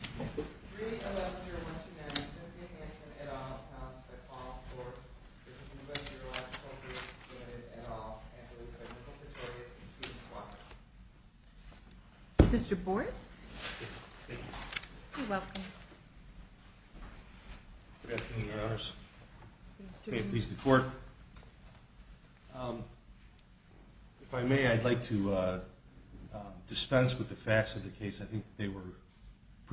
3-11-0129 Smith v. Hanson, et al., non-exceptional court. This is Midwest Urological Group v. Smith, et al., and it is the clinical pictorials and students' watch. It was very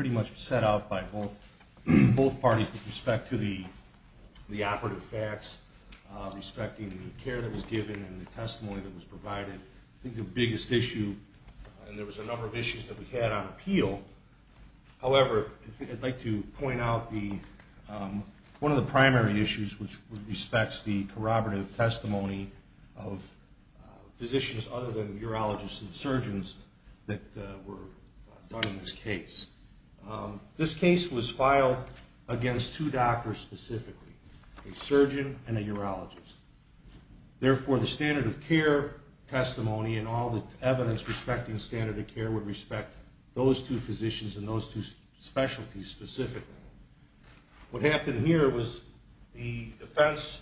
much set out by both parties with respect to the operative facts, respecting the care that was given and the testimony that was provided. I think the biggest issue, and there was a number of issues that we had on appeal, however, I'd like to point out one of the primary issues, which respects the corroborative testimony of physicians other than urologists and surgeons that were done in this case. This case was filed against two doctors specifically, a surgeon and a urologist. Therefore, the standard of care testimony and all the evidence respecting standard of care would respect those two physicians and those two specialties specifically. What happened here was the defense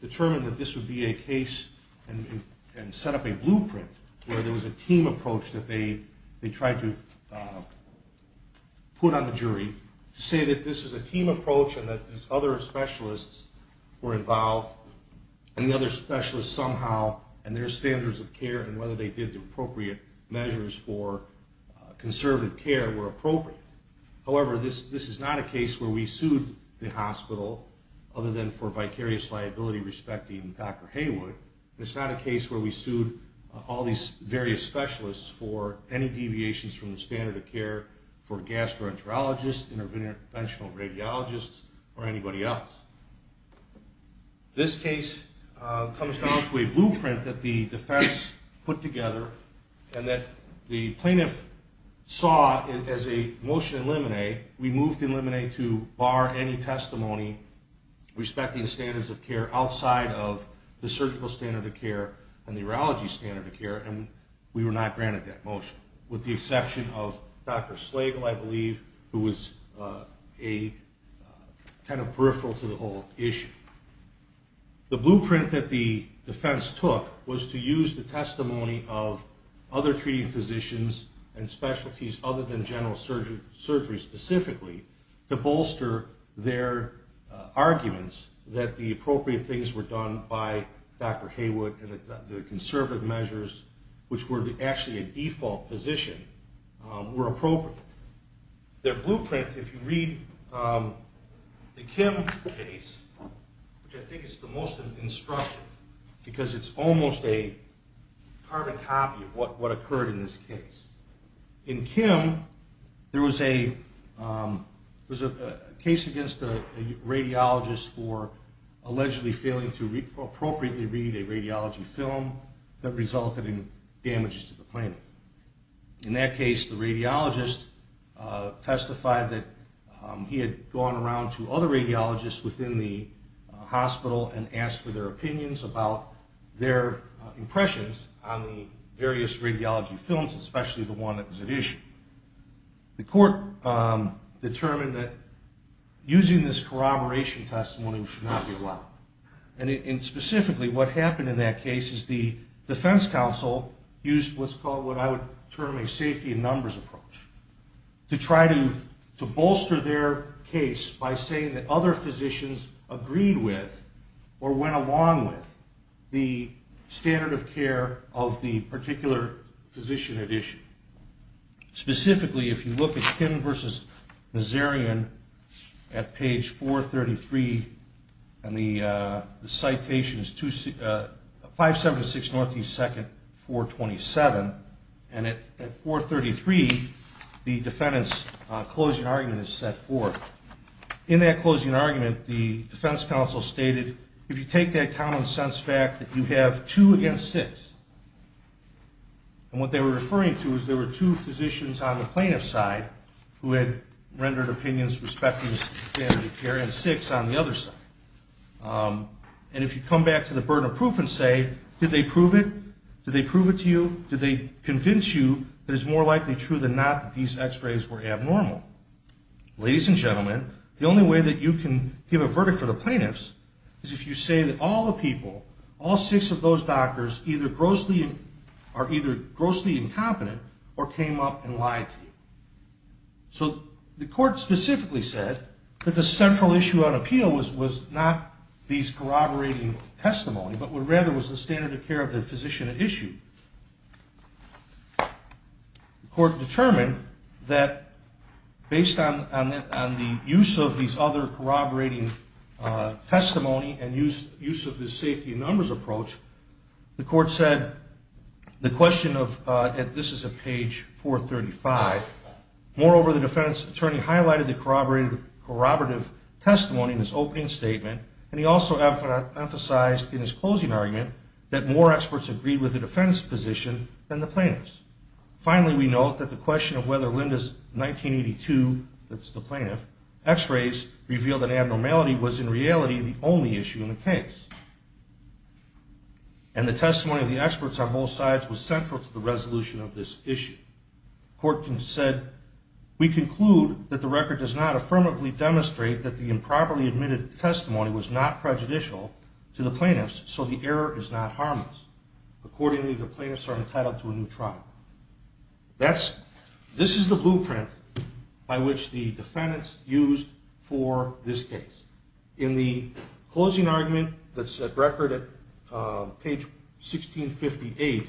determined that this would be a case and set up a blueprint where there was a team approach that they tried to put on the jury to say that this is a team approach and that other specialists were involved and the other specialists somehow and their standards of care and whether they did the appropriate measures for conservative care were appropriate. However, this is not a case where we sued the hospital other than for vicarious liability respecting Dr. Haywood. This is not a case where we sued all these various specialists for any deviations from the standard of care for gastroenterologists, interventional radiologists, or anybody else. This case comes down to a blueprint that the defense put together to bar any testimony respecting standards of care outside of the surgical standard of care and the urology standard of care, and we were not granted that motion with the exception of Dr. Slagle, I believe, who was kind of peripheral to the whole issue. The blueprint that the defense took was to use the testimony of other treating physicians and specialties other than general surgery specifically to bolster their arguments that the appropriate things were done by Dr. Haywood and the conservative measures, which were actually a default position, were appropriate. Their blueprint, if you read the Kim case, which I think is the most instructive because it's almost a carbon copy of what occurred in this case. In Kim, there was a case against a radiologist for allegedly failing to appropriately read a radiology film that resulted in damages to the plant. In that case, the radiologist testified that he had gone around to other radiologists within the hospital and asked for their opinions about their impressions on the various radiology films, especially the one that was at issue. The court determined that using this corroboration testimony should not be allowed. And specifically, what happened in that case is the defense counsel used what's called what I would term a safety in numbers approach to try to bolster their case by saying that other physicians agreed with or went along with the standard of care of the particular physician at issue. Specifically, if you look at Kim v. Nazarian at page 433, and the citation is 576 N.E. 2nd, 427, and at 433, the defendant's closing argument is set forth. In that closing argument, the defense counsel stated, if you take that common sense fact that you have two against six, and what they were referring to is there were two physicians on the plaintiff's side who had rendered opinions respecting the standard of care and six on the other side, and if you come back to the burden of proof and say, did they prove it? Did they prove it to you? Did they convince you that it's more likely true than not that these x-rays were abnormal? Ladies and gentlemen, the only way that you can give a verdict for the plaintiffs is if you say that all the people, all six of those doctors, are either grossly incompetent or came up and lied to you. So the court specifically said that the central issue on appeal was not these corroborating testimony, but rather was the standard of care of the physician at issue. The court determined that based on the use of these other corroborating testimony and use of this safety in numbers approach, the court said the question of, and this is at page 435, moreover, the defense attorney highlighted the corroborative testimony in his opening statement, and he also emphasized in his closing argument that more experts agreed with the defense position than the plaintiffs. Finally, we note that the question of whether Linda's 1982, that's the plaintiff, x-rays revealed an abnormality was in reality the only issue in the case, and the testimony of the experts on both sides was central to the resolution of this issue. The court said, we conclude that the record does not affirmatively demonstrate that the improperly admitted testimony was not prejudicial to the plaintiffs, so the error is not harmless. Accordingly, the plaintiffs are entitled to a new trial. This is the blueprint by which the defendants used for this case. In the closing argument that's at record at page 1658,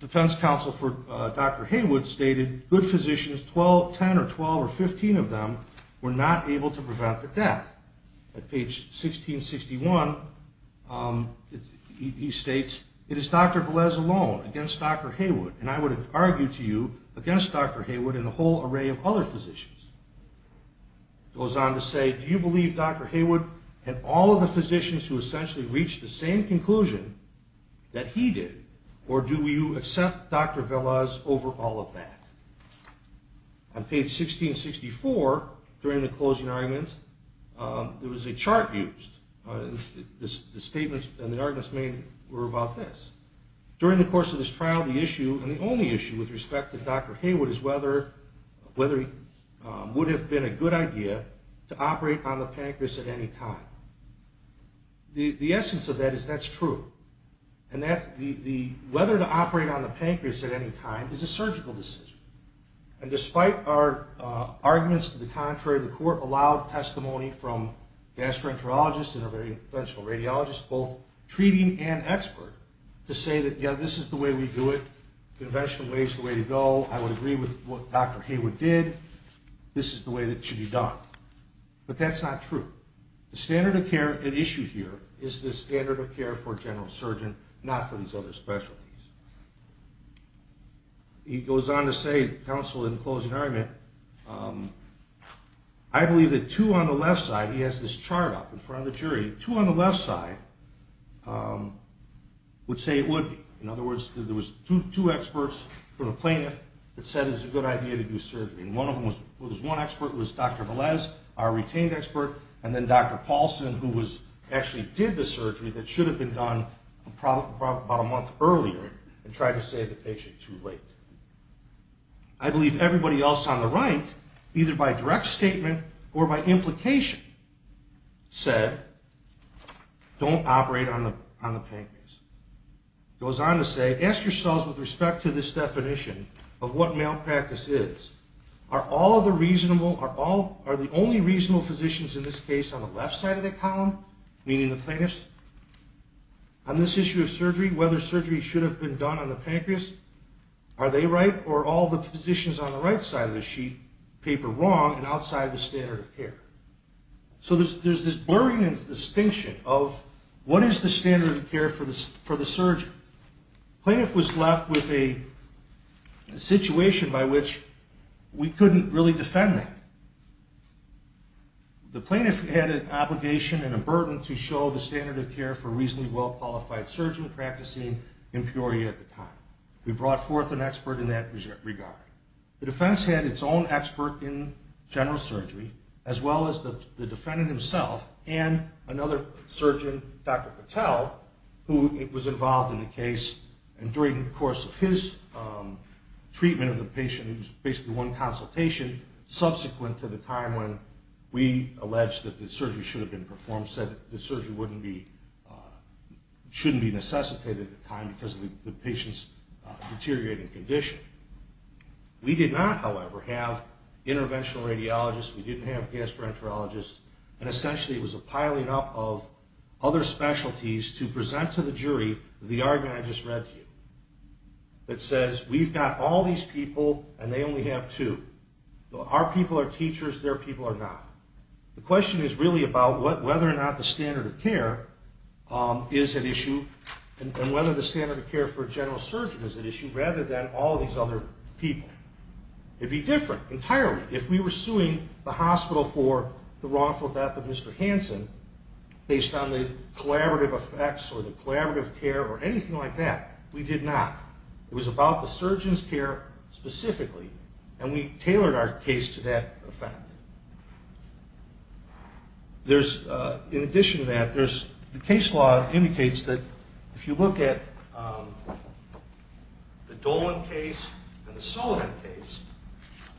defense counsel for Dr. Haywood stated, good physicians, 10 or 12 or 15 of them, were not able to prevent the death. At page 1661, he states, it is Dr. Velez alone against Dr. Haywood, and I would argue to you against Dr. Haywood and a whole array of other physicians. Goes on to say, do you believe Dr. Haywood and all of the physicians who essentially reached the same conclusion that he did, or do you accept Dr. Velez over all of that? On page 1664, during the closing argument, there was a chart used. The statements and the arguments were about this. During the course of this trial, the issue, and the only issue with respect to Dr. Haywood, is whether it would have been a good idea to operate on the pancreas at any time. The essence of that is that's true, and whether to operate on the pancreas at any time is a surgical decision. And despite our arguments to the contrary, the court allowed testimony from gastroenterologists and other conventional radiologists, both treating and expert, to say that, yeah, this is the way we do it. Conventional way is the way to go. I would agree with what Dr. Haywood did. This is the way that it should be done. But that's not true. The standard of care at issue here is the standard of care for a general surgeon, not for these other specialties. He goes on to say, counsel, in the closing argument, I believe that two on the left side, he has this chart up in front of the jury, two on the left side would say it would be. In other words, there was two experts from a plaintiff that said it was a good idea to do surgery. One expert was Dr. Velez, our retained expert, and then Dr. Paulson, who actually did the surgery that should have been done about a month earlier, and tried to save the patient too late. I believe everybody else on the right, either by direct statement or by implication, said, don't operate on the pancreas. Goes on to say, ask yourselves with respect to this definition of what malpractice is, are the only reasonable physicians in this case on the left side of the column, meaning the plaintiffs? On this issue of surgery, whether surgery should have been done on the pancreas, are they right, or are all the physicians on the right side of the sheet paper wrong and outside the standard of care? So there's this blurring of distinction of what is the standard of care for the surgeon. The plaintiff was left with a situation by which we couldn't really defend them. The plaintiff had an obligation and a burden to show the standard of care for a reasonably well-qualified surgeon practicing in Peoria at the time. We brought forth an expert in that regard. The defense had its own expert in general surgery, as well as the defendant himself, and another surgeon, Dr. Patel, who was involved in the case. And during the course of his treatment of the patient, it was basically one consultation subsequent to the time when we alleged that the surgery should have been performed, said that the surgery shouldn't be necessitated at the time because of the patient's deteriorating condition. We did not, however, have interventional radiologists. We didn't have gastroenterologists. And essentially it was a piling up of other specialties to present to the jury the argument I just read to you that says we've got all these people and they only have two. Our people are teachers, their people are not. The question is really about whether or not the standard of care is an issue and whether the standard of care for a general surgeon is an issue rather than all these other people. It would be different entirely if we were suing the hospital for the wrongful death of Mr. Hansen based on the collaborative effects or the collaborative care or anything like that. We did not. It was about the surgeon's care specifically, and we tailored our case to that effect. In addition to that, the case law indicates that if you look at the Dolan case and the Sullivan case,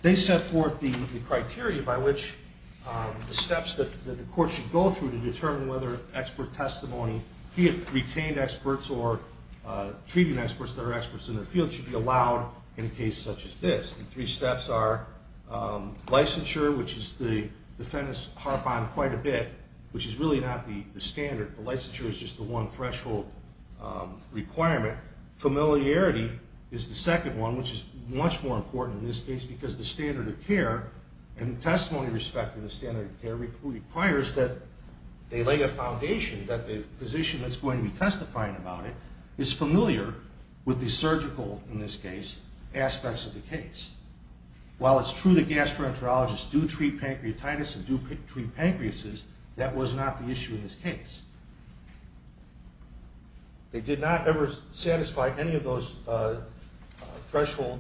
they set forth the criteria by which the steps that the court should go through to determine whether expert testimony, be it retained experts or treating experts that are experts in their field, should be allowed in a case such as this. The three steps are licensure, which the defendants harp on quite a bit, which is really not the standard. The licensure is just the one threshold requirement. Familiarity is the second one, which is much more important in this case because the standard of care and the testimony respecting the standard of care requires that they lay a foundation that the physician that's going to be testifying about it is familiar with the surgical, in this case, aspects of the case. While it's true that gastroenterologists do treat pancreatitis and do treat pancreases, that was not the issue in this case. They did not ever satisfy any of those threshold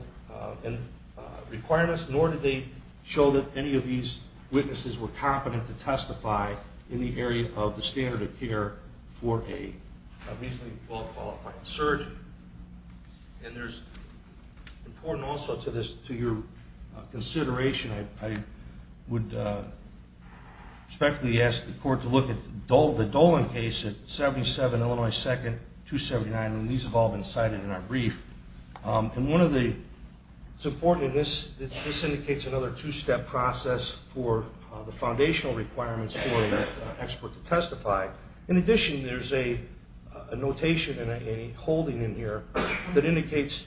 requirements, nor did they show that any of these witnesses were competent to testify in the area of the standard of care for a reasonably well-qualified surgeon. And there's, important also to this, to your consideration, I would respectfully ask the court to look at the Dolan case at 77 Illinois 2nd, 279, and these have all been cited in our brief. And one of the, it's important, and this indicates another two-step process for the foundational requirements for an expert to testify. In addition, there's a notation and a holding in here that indicates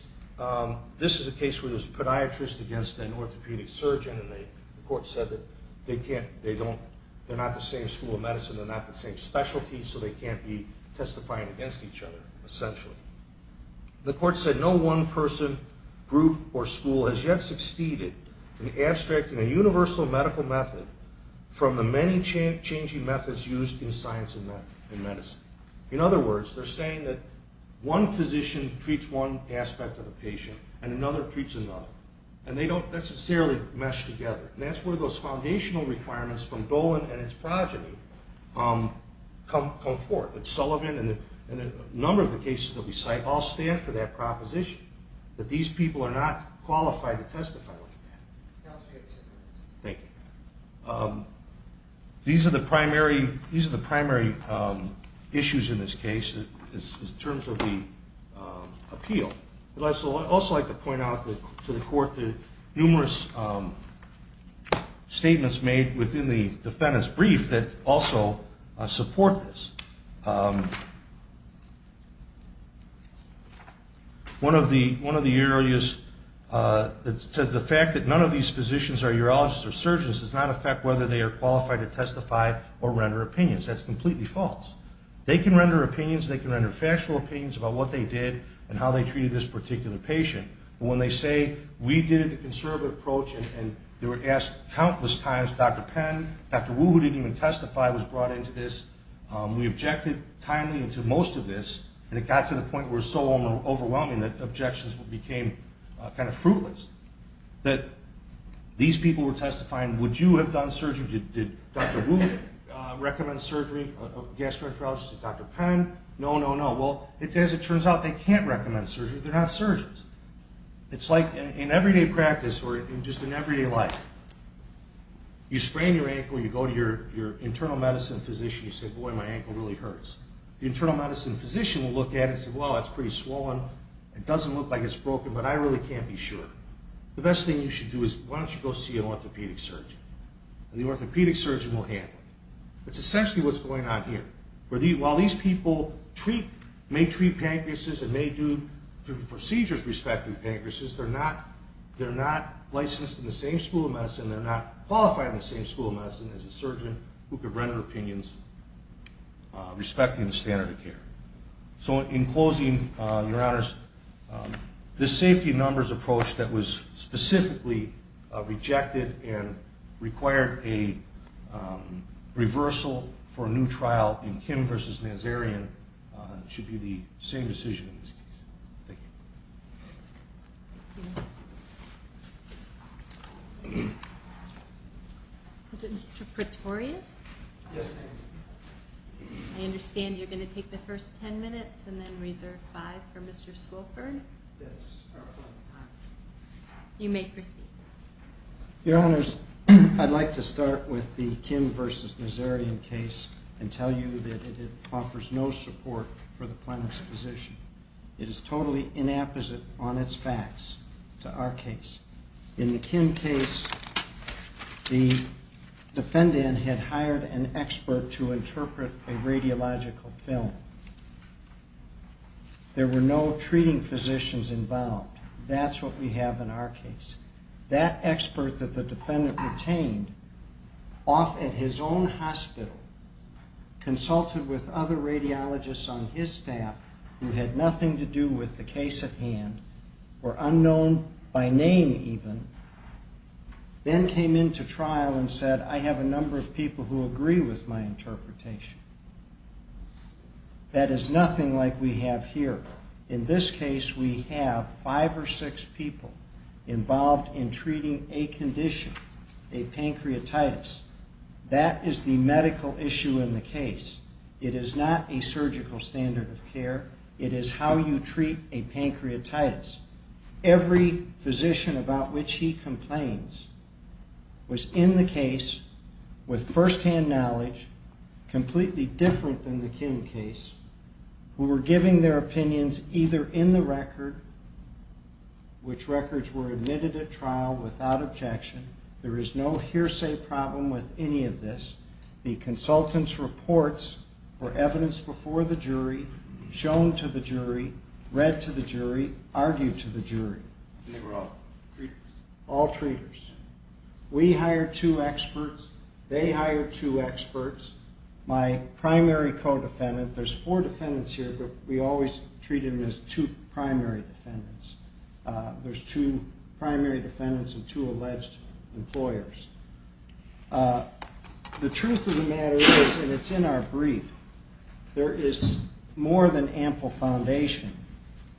this is a case where there's a podiatrist against an orthopedic surgeon, and the court said that they can't, they don't, they're not the same school of medicine, they're not the same specialty, so they can't be testifying against each other, essentially. The court said, no one person, group, or school has yet succeeded in abstracting a universal medical method from the many changing methods used in science and medicine. In other words, they're saying that one physician treats one aspect of a patient and another treats another, and they don't necessarily mesh together. And that's where those foundational requirements from Dolan and its progeny come forth. Sullivan and a number of the cases that we cite all stand for that proposition, that these people are not qualified to testify like that. Thank you. These are the primary issues in this case in terms of the appeal. I'd also like to point out to the court the numerous statements made within the defendant's brief that also support this. One of the areas, the fact that none of these physicians are urologists or surgeons does not affect whether they are qualified to testify or render opinions. That's completely false. They can render opinions, they can render factual opinions about what they did and how they treated this particular patient. But when they say, we did it the conservative approach, and they were asked countless times, Dr. Penn, Dr. Wu, who didn't even testify, was brought into this, we objected timely to most of this, and it got to the point where it was so overwhelming that objections became kind of fruitless, that these people were testifying, would you have done surgery? Did Dr. Wu recommend surgery, gastroenterologist, Dr. Penn? No, no, no. Well, as it turns out, they can't recommend surgery. They're not surgeons. It's like in everyday practice or just in everyday life. You sprain your ankle, you go to your internal medicine physician, you say, boy, my ankle really hurts. The internal medicine physician will look at it and say, well, it's pretty swollen, it doesn't look like it's broken, but I really can't be sure. The best thing you should do is why don't you go see an orthopedic surgeon, and the orthopedic surgeon will handle it. That's essentially what's going on here. While these people may treat pancreases and may do procedures respecting pancreases, they're not licensed in the same school of medicine, they're not qualified in the same school of medicine as a surgeon who could render opinions respecting the standard of care. So in closing, Your Honors, this safety numbers approach that was specifically rejected and required a reversal for a new trial in Kim versus Nazarian should be the same decision in this case. Thank you. Is it Mr. Pretorius? Yes, ma'am. I understand you're going to take the first ten minutes and then reserve five for Mr. Swilford? Yes. You may proceed. Your Honors, I'd like to start with the Kim versus Nazarian case and tell you that it offers no support for the plaintiff's position. It is totally inapposite on its facts to our case. In the Kim case, the defendant had hired an expert to interpret a radiological film. There were no treating physicians involved. That's what we have in our case. That expert that the defendant retained, off at his own hospital, consulted with other radiologists on his staff who had nothing to do with the case at hand, were unknown by name even, then came into trial and said, I have a number of people who agree with my interpretation. That is nothing like we have here. In this case, we have five or six people involved in treating a condition, a pancreatitis. That is the medical issue in the case. It is not a surgical standard of care. It is how you treat a pancreatitis. Every physician about which he complains was in the case with firsthand knowledge, completely different than the Kim case, who were giving their opinions either in the record, which records were admitted at trial without objection. There is no hearsay problem with any of this. The consultant's reports were evidence before the jury, shown to the jury, read to the jury, argued to the jury. And they were all treaters? All treaters. We hired two experts. They hired two experts. My primary co-defendant, there's four defendants here, but we always treat them as two primary defendants. There's two primary defendants and two alleged employers. The truth of the matter is, and it's in our brief, there is more than ample foundation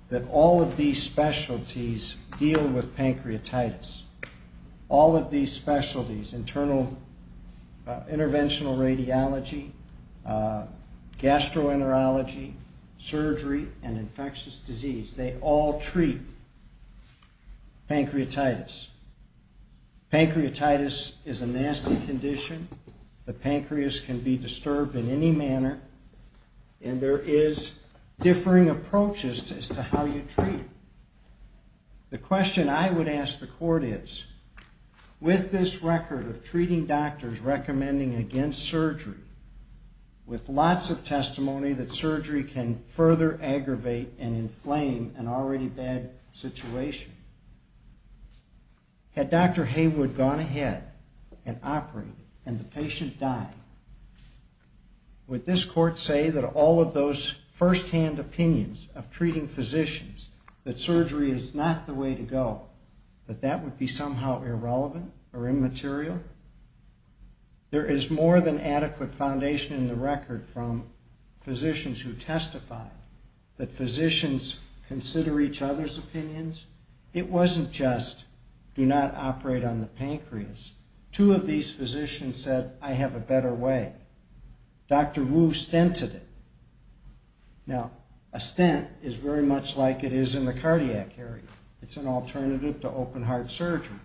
that all of these specialties deal with pancreatitis. All of these specialties, interventional radiology, gastroenterology, surgery, and infectious disease, they all treat pancreatitis. Pancreatitis is a nasty condition. The pancreas can be disturbed in any manner, and there is differing approaches as to how you treat it. The question I would ask the court is, with this record of treating doctors recommending against surgery, with lots of testimony that surgery can further aggravate and inflame an already bad situation, had Dr. Haywood gone ahead and operated and the patient died, would this court say that all of those firsthand opinions of treating physicians, that surgery is not the way to go, that that would be somehow irrelevant or immaterial? There is more than adequate foundation in the record from physicians who testified, that physicians consider each other's opinions. It wasn't just, do not operate on the pancreas. Two of these physicians said, I have a better way. Dr. Wu stented it. Now, a stent is very much like it is in the cardiac area. It's an alternative to open-heart surgery.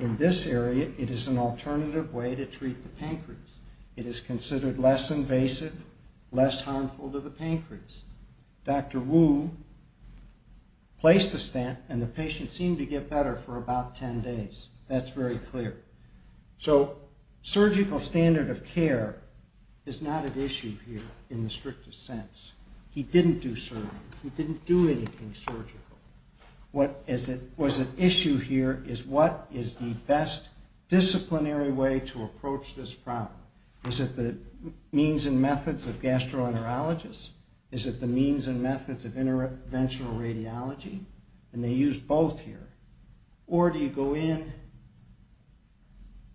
In this area, it is an alternative way to treat the pancreas. It is considered less invasive, less harmful to the pancreas. Dr. Wu placed a stent, and the patient seemed to get better for about 10 days. That's very clear. So surgical standard of care is not at issue here in the strictest sense. He didn't do surgery. He didn't do anything surgical. What was at issue here is what is the best disciplinary way to approach this problem. Is it the means and methods of gastroenterologists? Is it the means and methods of interventional radiology? They used both here. Or do you go in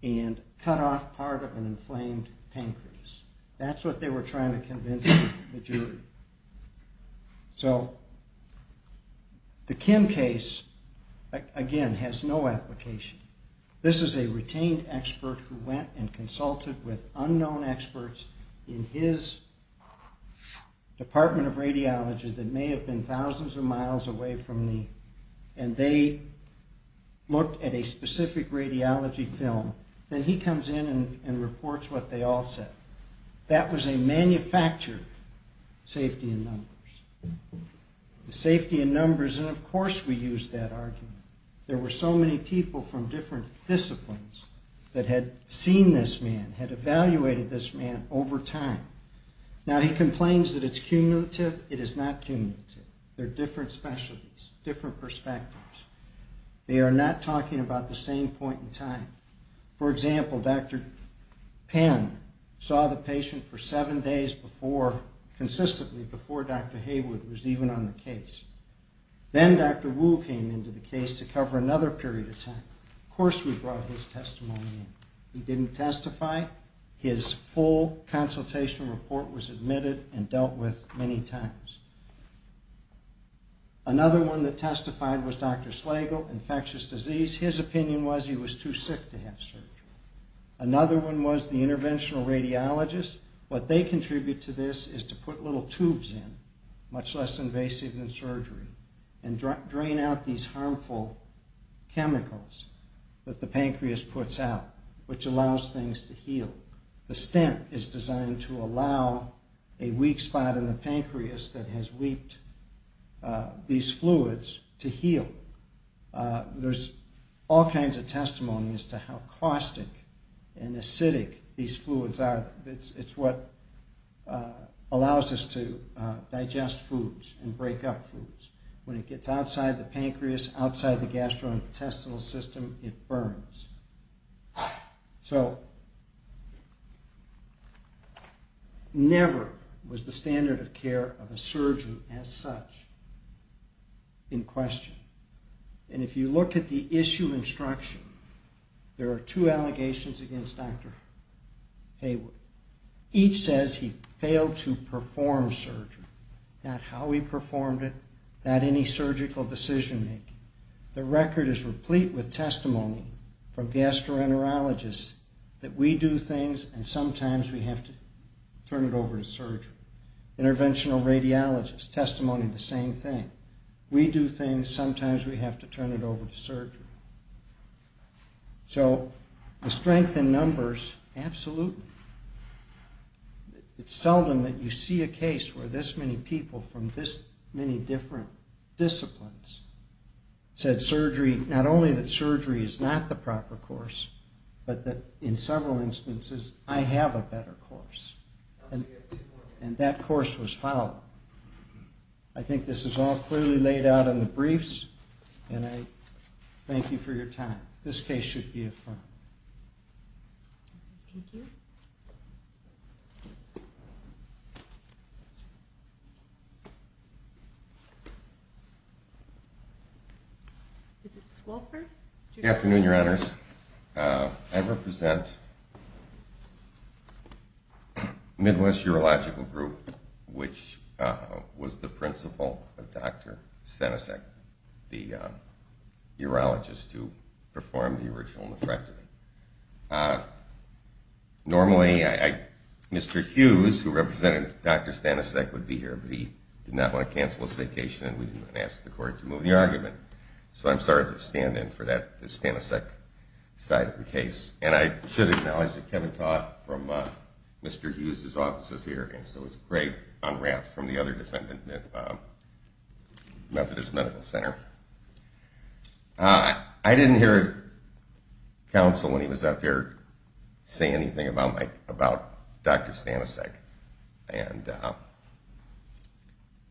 and cut off part of an inflamed pancreas? That's what they were trying to convince the jury. So the Kim case, again, has no application. This is a retained expert who went and consulted with unknown experts in his department of radiology that may have been thousands of miles away from me, and they looked at a specific radiology film. Then he comes in and reports what they all said. That was a manufactured safety in numbers. The safety in numbers, and of course we used that argument. There were so many people from different disciplines that had seen this man, had evaluated this man over time. Now he complains that it's cumulative. It is not cumulative. They're different specialties, different perspectives. They are not talking about the same point in time. For example, Dr. Pan saw the patient for seven days before, consistently before Dr. Haywood was even on the case. Then Dr. Wu came into the case to cover another period of time. Of course we brought his testimony in. He didn't testify. His full consultation report was admitted and dealt with many times. Another one that testified was Dr. Slagle, infectious disease. His opinion was he was too sick to have surgery. Another one was the interventional radiologists. What they contribute to this is to put little tubes in, much less invasive than surgery, and drain out these harmful chemicals that the pancreas puts out, which allows things to heal. The stent is designed to allow a weak spot in the pancreas that has weeped these fluids to heal. There's all kinds of testimony as to how caustic and acidic these fluids are. It's what allows us to digest foods and break up foods. When it gets outside the pancreas, outside the gastrointestinal system, it burns. So never was the standard of care of a surgeon as such in question. And if you look at the issue instruction, there are two allegations against Dr. Hayward. Each says he failed to perform surgery, not how he performed it, not any surgical decision-making. The record is replete with testimony from gastroenterologists that we do things and sometimes we have to turn it over to surgery. Interventional radiologists, testimony of the same thing. We do things, sometimes we have to turn it over to surgery. So the strength in numbers, absolutely. It's seldom that you see a case where this many people from this many different disciplines said surgery, not only that surgery is not the proper course, but that in several instances, I have a better course. And that course was followed. I think this is all clearly laid out in the briefs, and I thank you for your time. This case should be affirmed. Is it Swofford? Good afternoon, Your Honors. I represent Midwest Urological Group, which was the principal of Dr. Stanisek, the urologist who performed the original nephrectomy. Normally, Mr. Hughes, who represented Dr. Stanisek, would be here, but he did not want to cancel his vacation and we didn't want to ask the court to move the argument. So I'm sorry to stand in for the Stanisek side of the case. And I should acknowledge that Kevin Taught from Mr. Hughes' office is here, and so is Greg Unrath from the other defendant at Methodist Medical Center. I didn't hear counsel when he was up here say anything about Dr. Stanisek.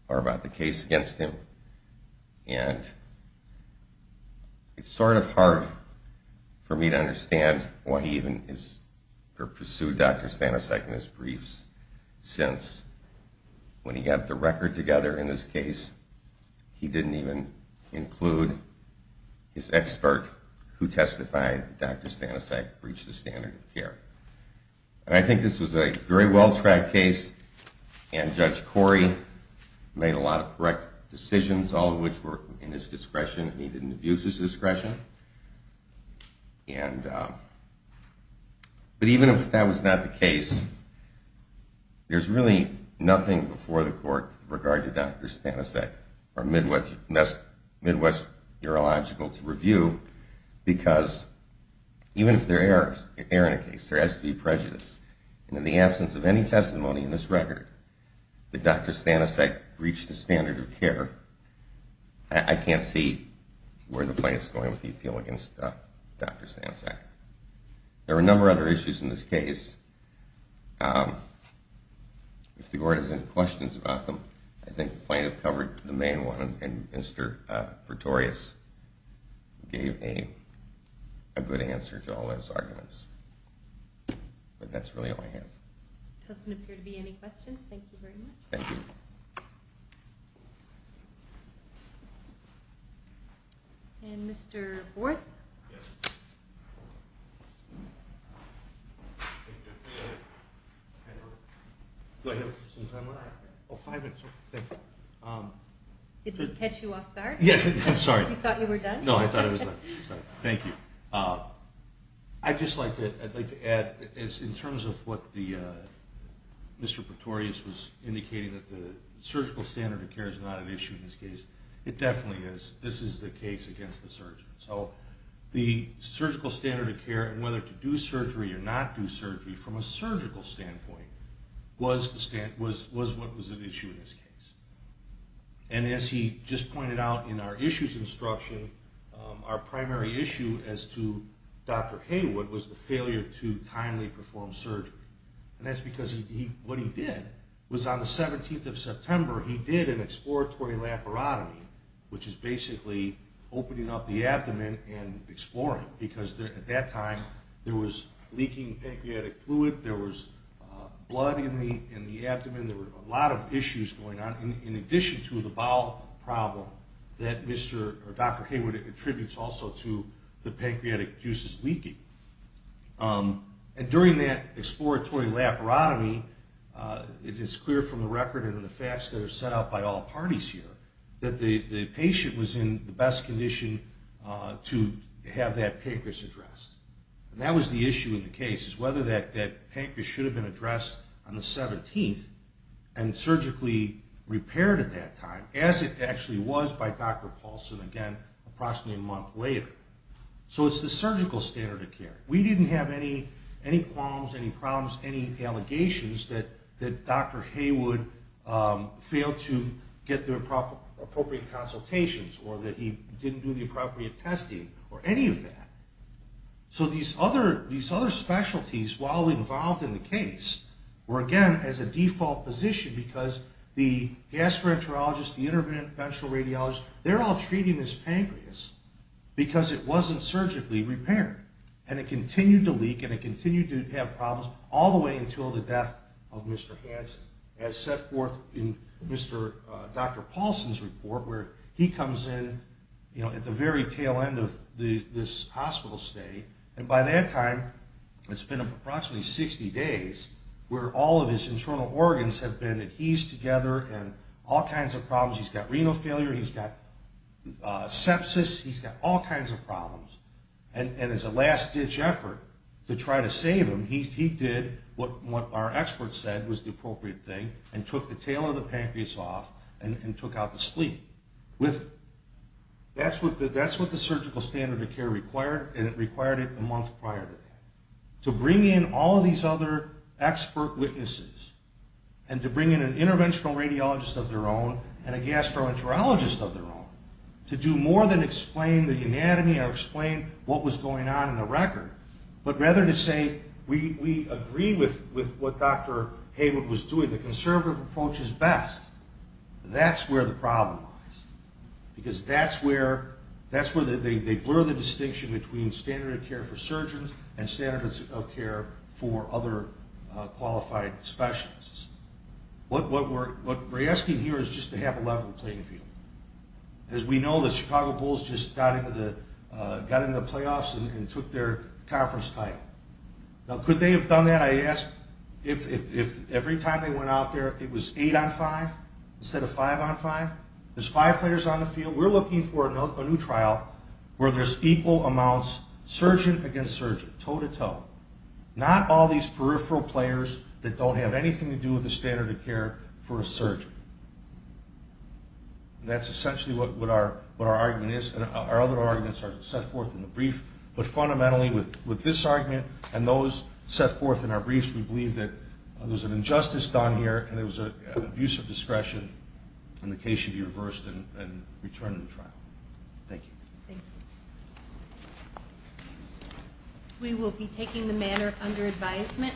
Or about the case against him. And it's sort of hard for me to understand why he even pursued Dr. Stanisek in his briefs since when he got the record together in this case, he didn't even include his expert who testified that Dr. Stanisek breached the standard of care. And I think this was a very well-tracked case, and Judge Corey made a lot of correct decisions, all of which were in his discretion, and he didn't abuse his discretion. But even if that was not the case, there's really nothing before the court with regard to Dr. Stanisek or Midwest Urological to review, because even if there are errors in a case, there has to be prejudice. And in the absence of any testimony in this record that Dr. Stanisek breached the standard of care, I can't see where the plaintiff is going with the appeal against Dr. Stanisek. There are a number of other issues in this case. If the court has any questions about them, I think the plaintiff covered the main ones, and Mr. Pretorius gave a good answer to all those arguments. But that's really all I have. There doesn't appear to be any questions. Thank you very much. Thank you. And Mr. Borth? Yes. Do I have some time left? Oh, five minutes. Thank you. Did we catch you off guard? Yes, I'm sorry. You thought you were done? No, I thought I was done. Thank you. I'd just like to add, in terms of what Mr. Pretorius was indicating, that the surgical standard of care is not an issue in this case. It definitely is. This is the case against the surgeon. So the surgical standard of care, and whether to do surgery or not do surgery, from a surgical standpoint, was what was an issue in this case. And as he just pointed out in our issues instruction, our primary issue as to Dr. Haywood was the failure to timely perform surgery. And that's because what he did was, on the 17th of September, he did an exploratory laparotomy, which is basically opening up the abdomen and exploring, because at that time there was leaking pancreatic fluid, there was blood in the abdomen, there were a lot of issues going on, in addition to the bowel problem that Dr. Haywood attributes also to the pancreatic juices leaking. And during that exploratory laparotomy, it is clear from the record and the facts that are set out by all parties here, that the patient was in the best condition to have that pancreas addressed. And that was the issue in the case, is whether that pancreas should have been addressed on the 17th and surgically repaired at that time, as it actually was by Dr. Paulson again approximately a month later. So it's the surgical standard of care. We didn't have any qualms, any problems, any allegations that Dr. Haywood failed to get the appropriate consultations or that he didn't do the appropriate testing or any of that. So these other specialties, while involved in the case, were again as a default position because the gastroenterologist, the interventional radiologist, they're all treating this pancreas because it wasn't surgically repaired, and it continued to leak and it continued to have problems all the way until the death of Mr. Hansen, as set forth in Dr. Paulson's report, where he comes in at the very tail end of this hospital stay. And by that time, it's been approximately 60 days, where all of his internal organs have been adhesed together and all kinds of problems. He's got renal failure. He's got sepsis. He's got all kinds of problems. And as a last-ditch effort to try to save him, he did what our experts said was the appropriate thing and took the tail of the pancreas off and took out the spleen. That's what the surgical standard of care required, and it required it a month prior to that, to bring in all of these other expert witnesses and to bring in an interventional radiologist of their own and a gastroenterologist of their own to do more than explain the anatomy or explain what was going on in the record, but rather to say, we agree with what Dr. Haywood was doing. The conservative approach is best. That's where the problem lies, because that's where they blur the distinction between standard of care for surgeons and standard of care for other qualified specialists. What we're asking here is just to have a level playing field. As we know, the Chicago Bulls just got into the playoffs and took their conference title. Now, could they have done that? Every time they went out there, it was 8 on 5 instead of 5 on 5? There's five players on the field. We're looking for a new trial where there's equal amounts, surgeon against surgeon, toe to toe, not all these peripheral players that don't have anything to do with the standard of care for a surgeon. That's essentially what our argument is. Our other arguments are set forth in the brief, but fundamentally with this argument and those set forth in our briefs, we believe that there was an injustice done here and there was an abuse of discretion and the case should be reversed and returned to the trial. Thank you. Thank you. We will be taking the matter under advisement.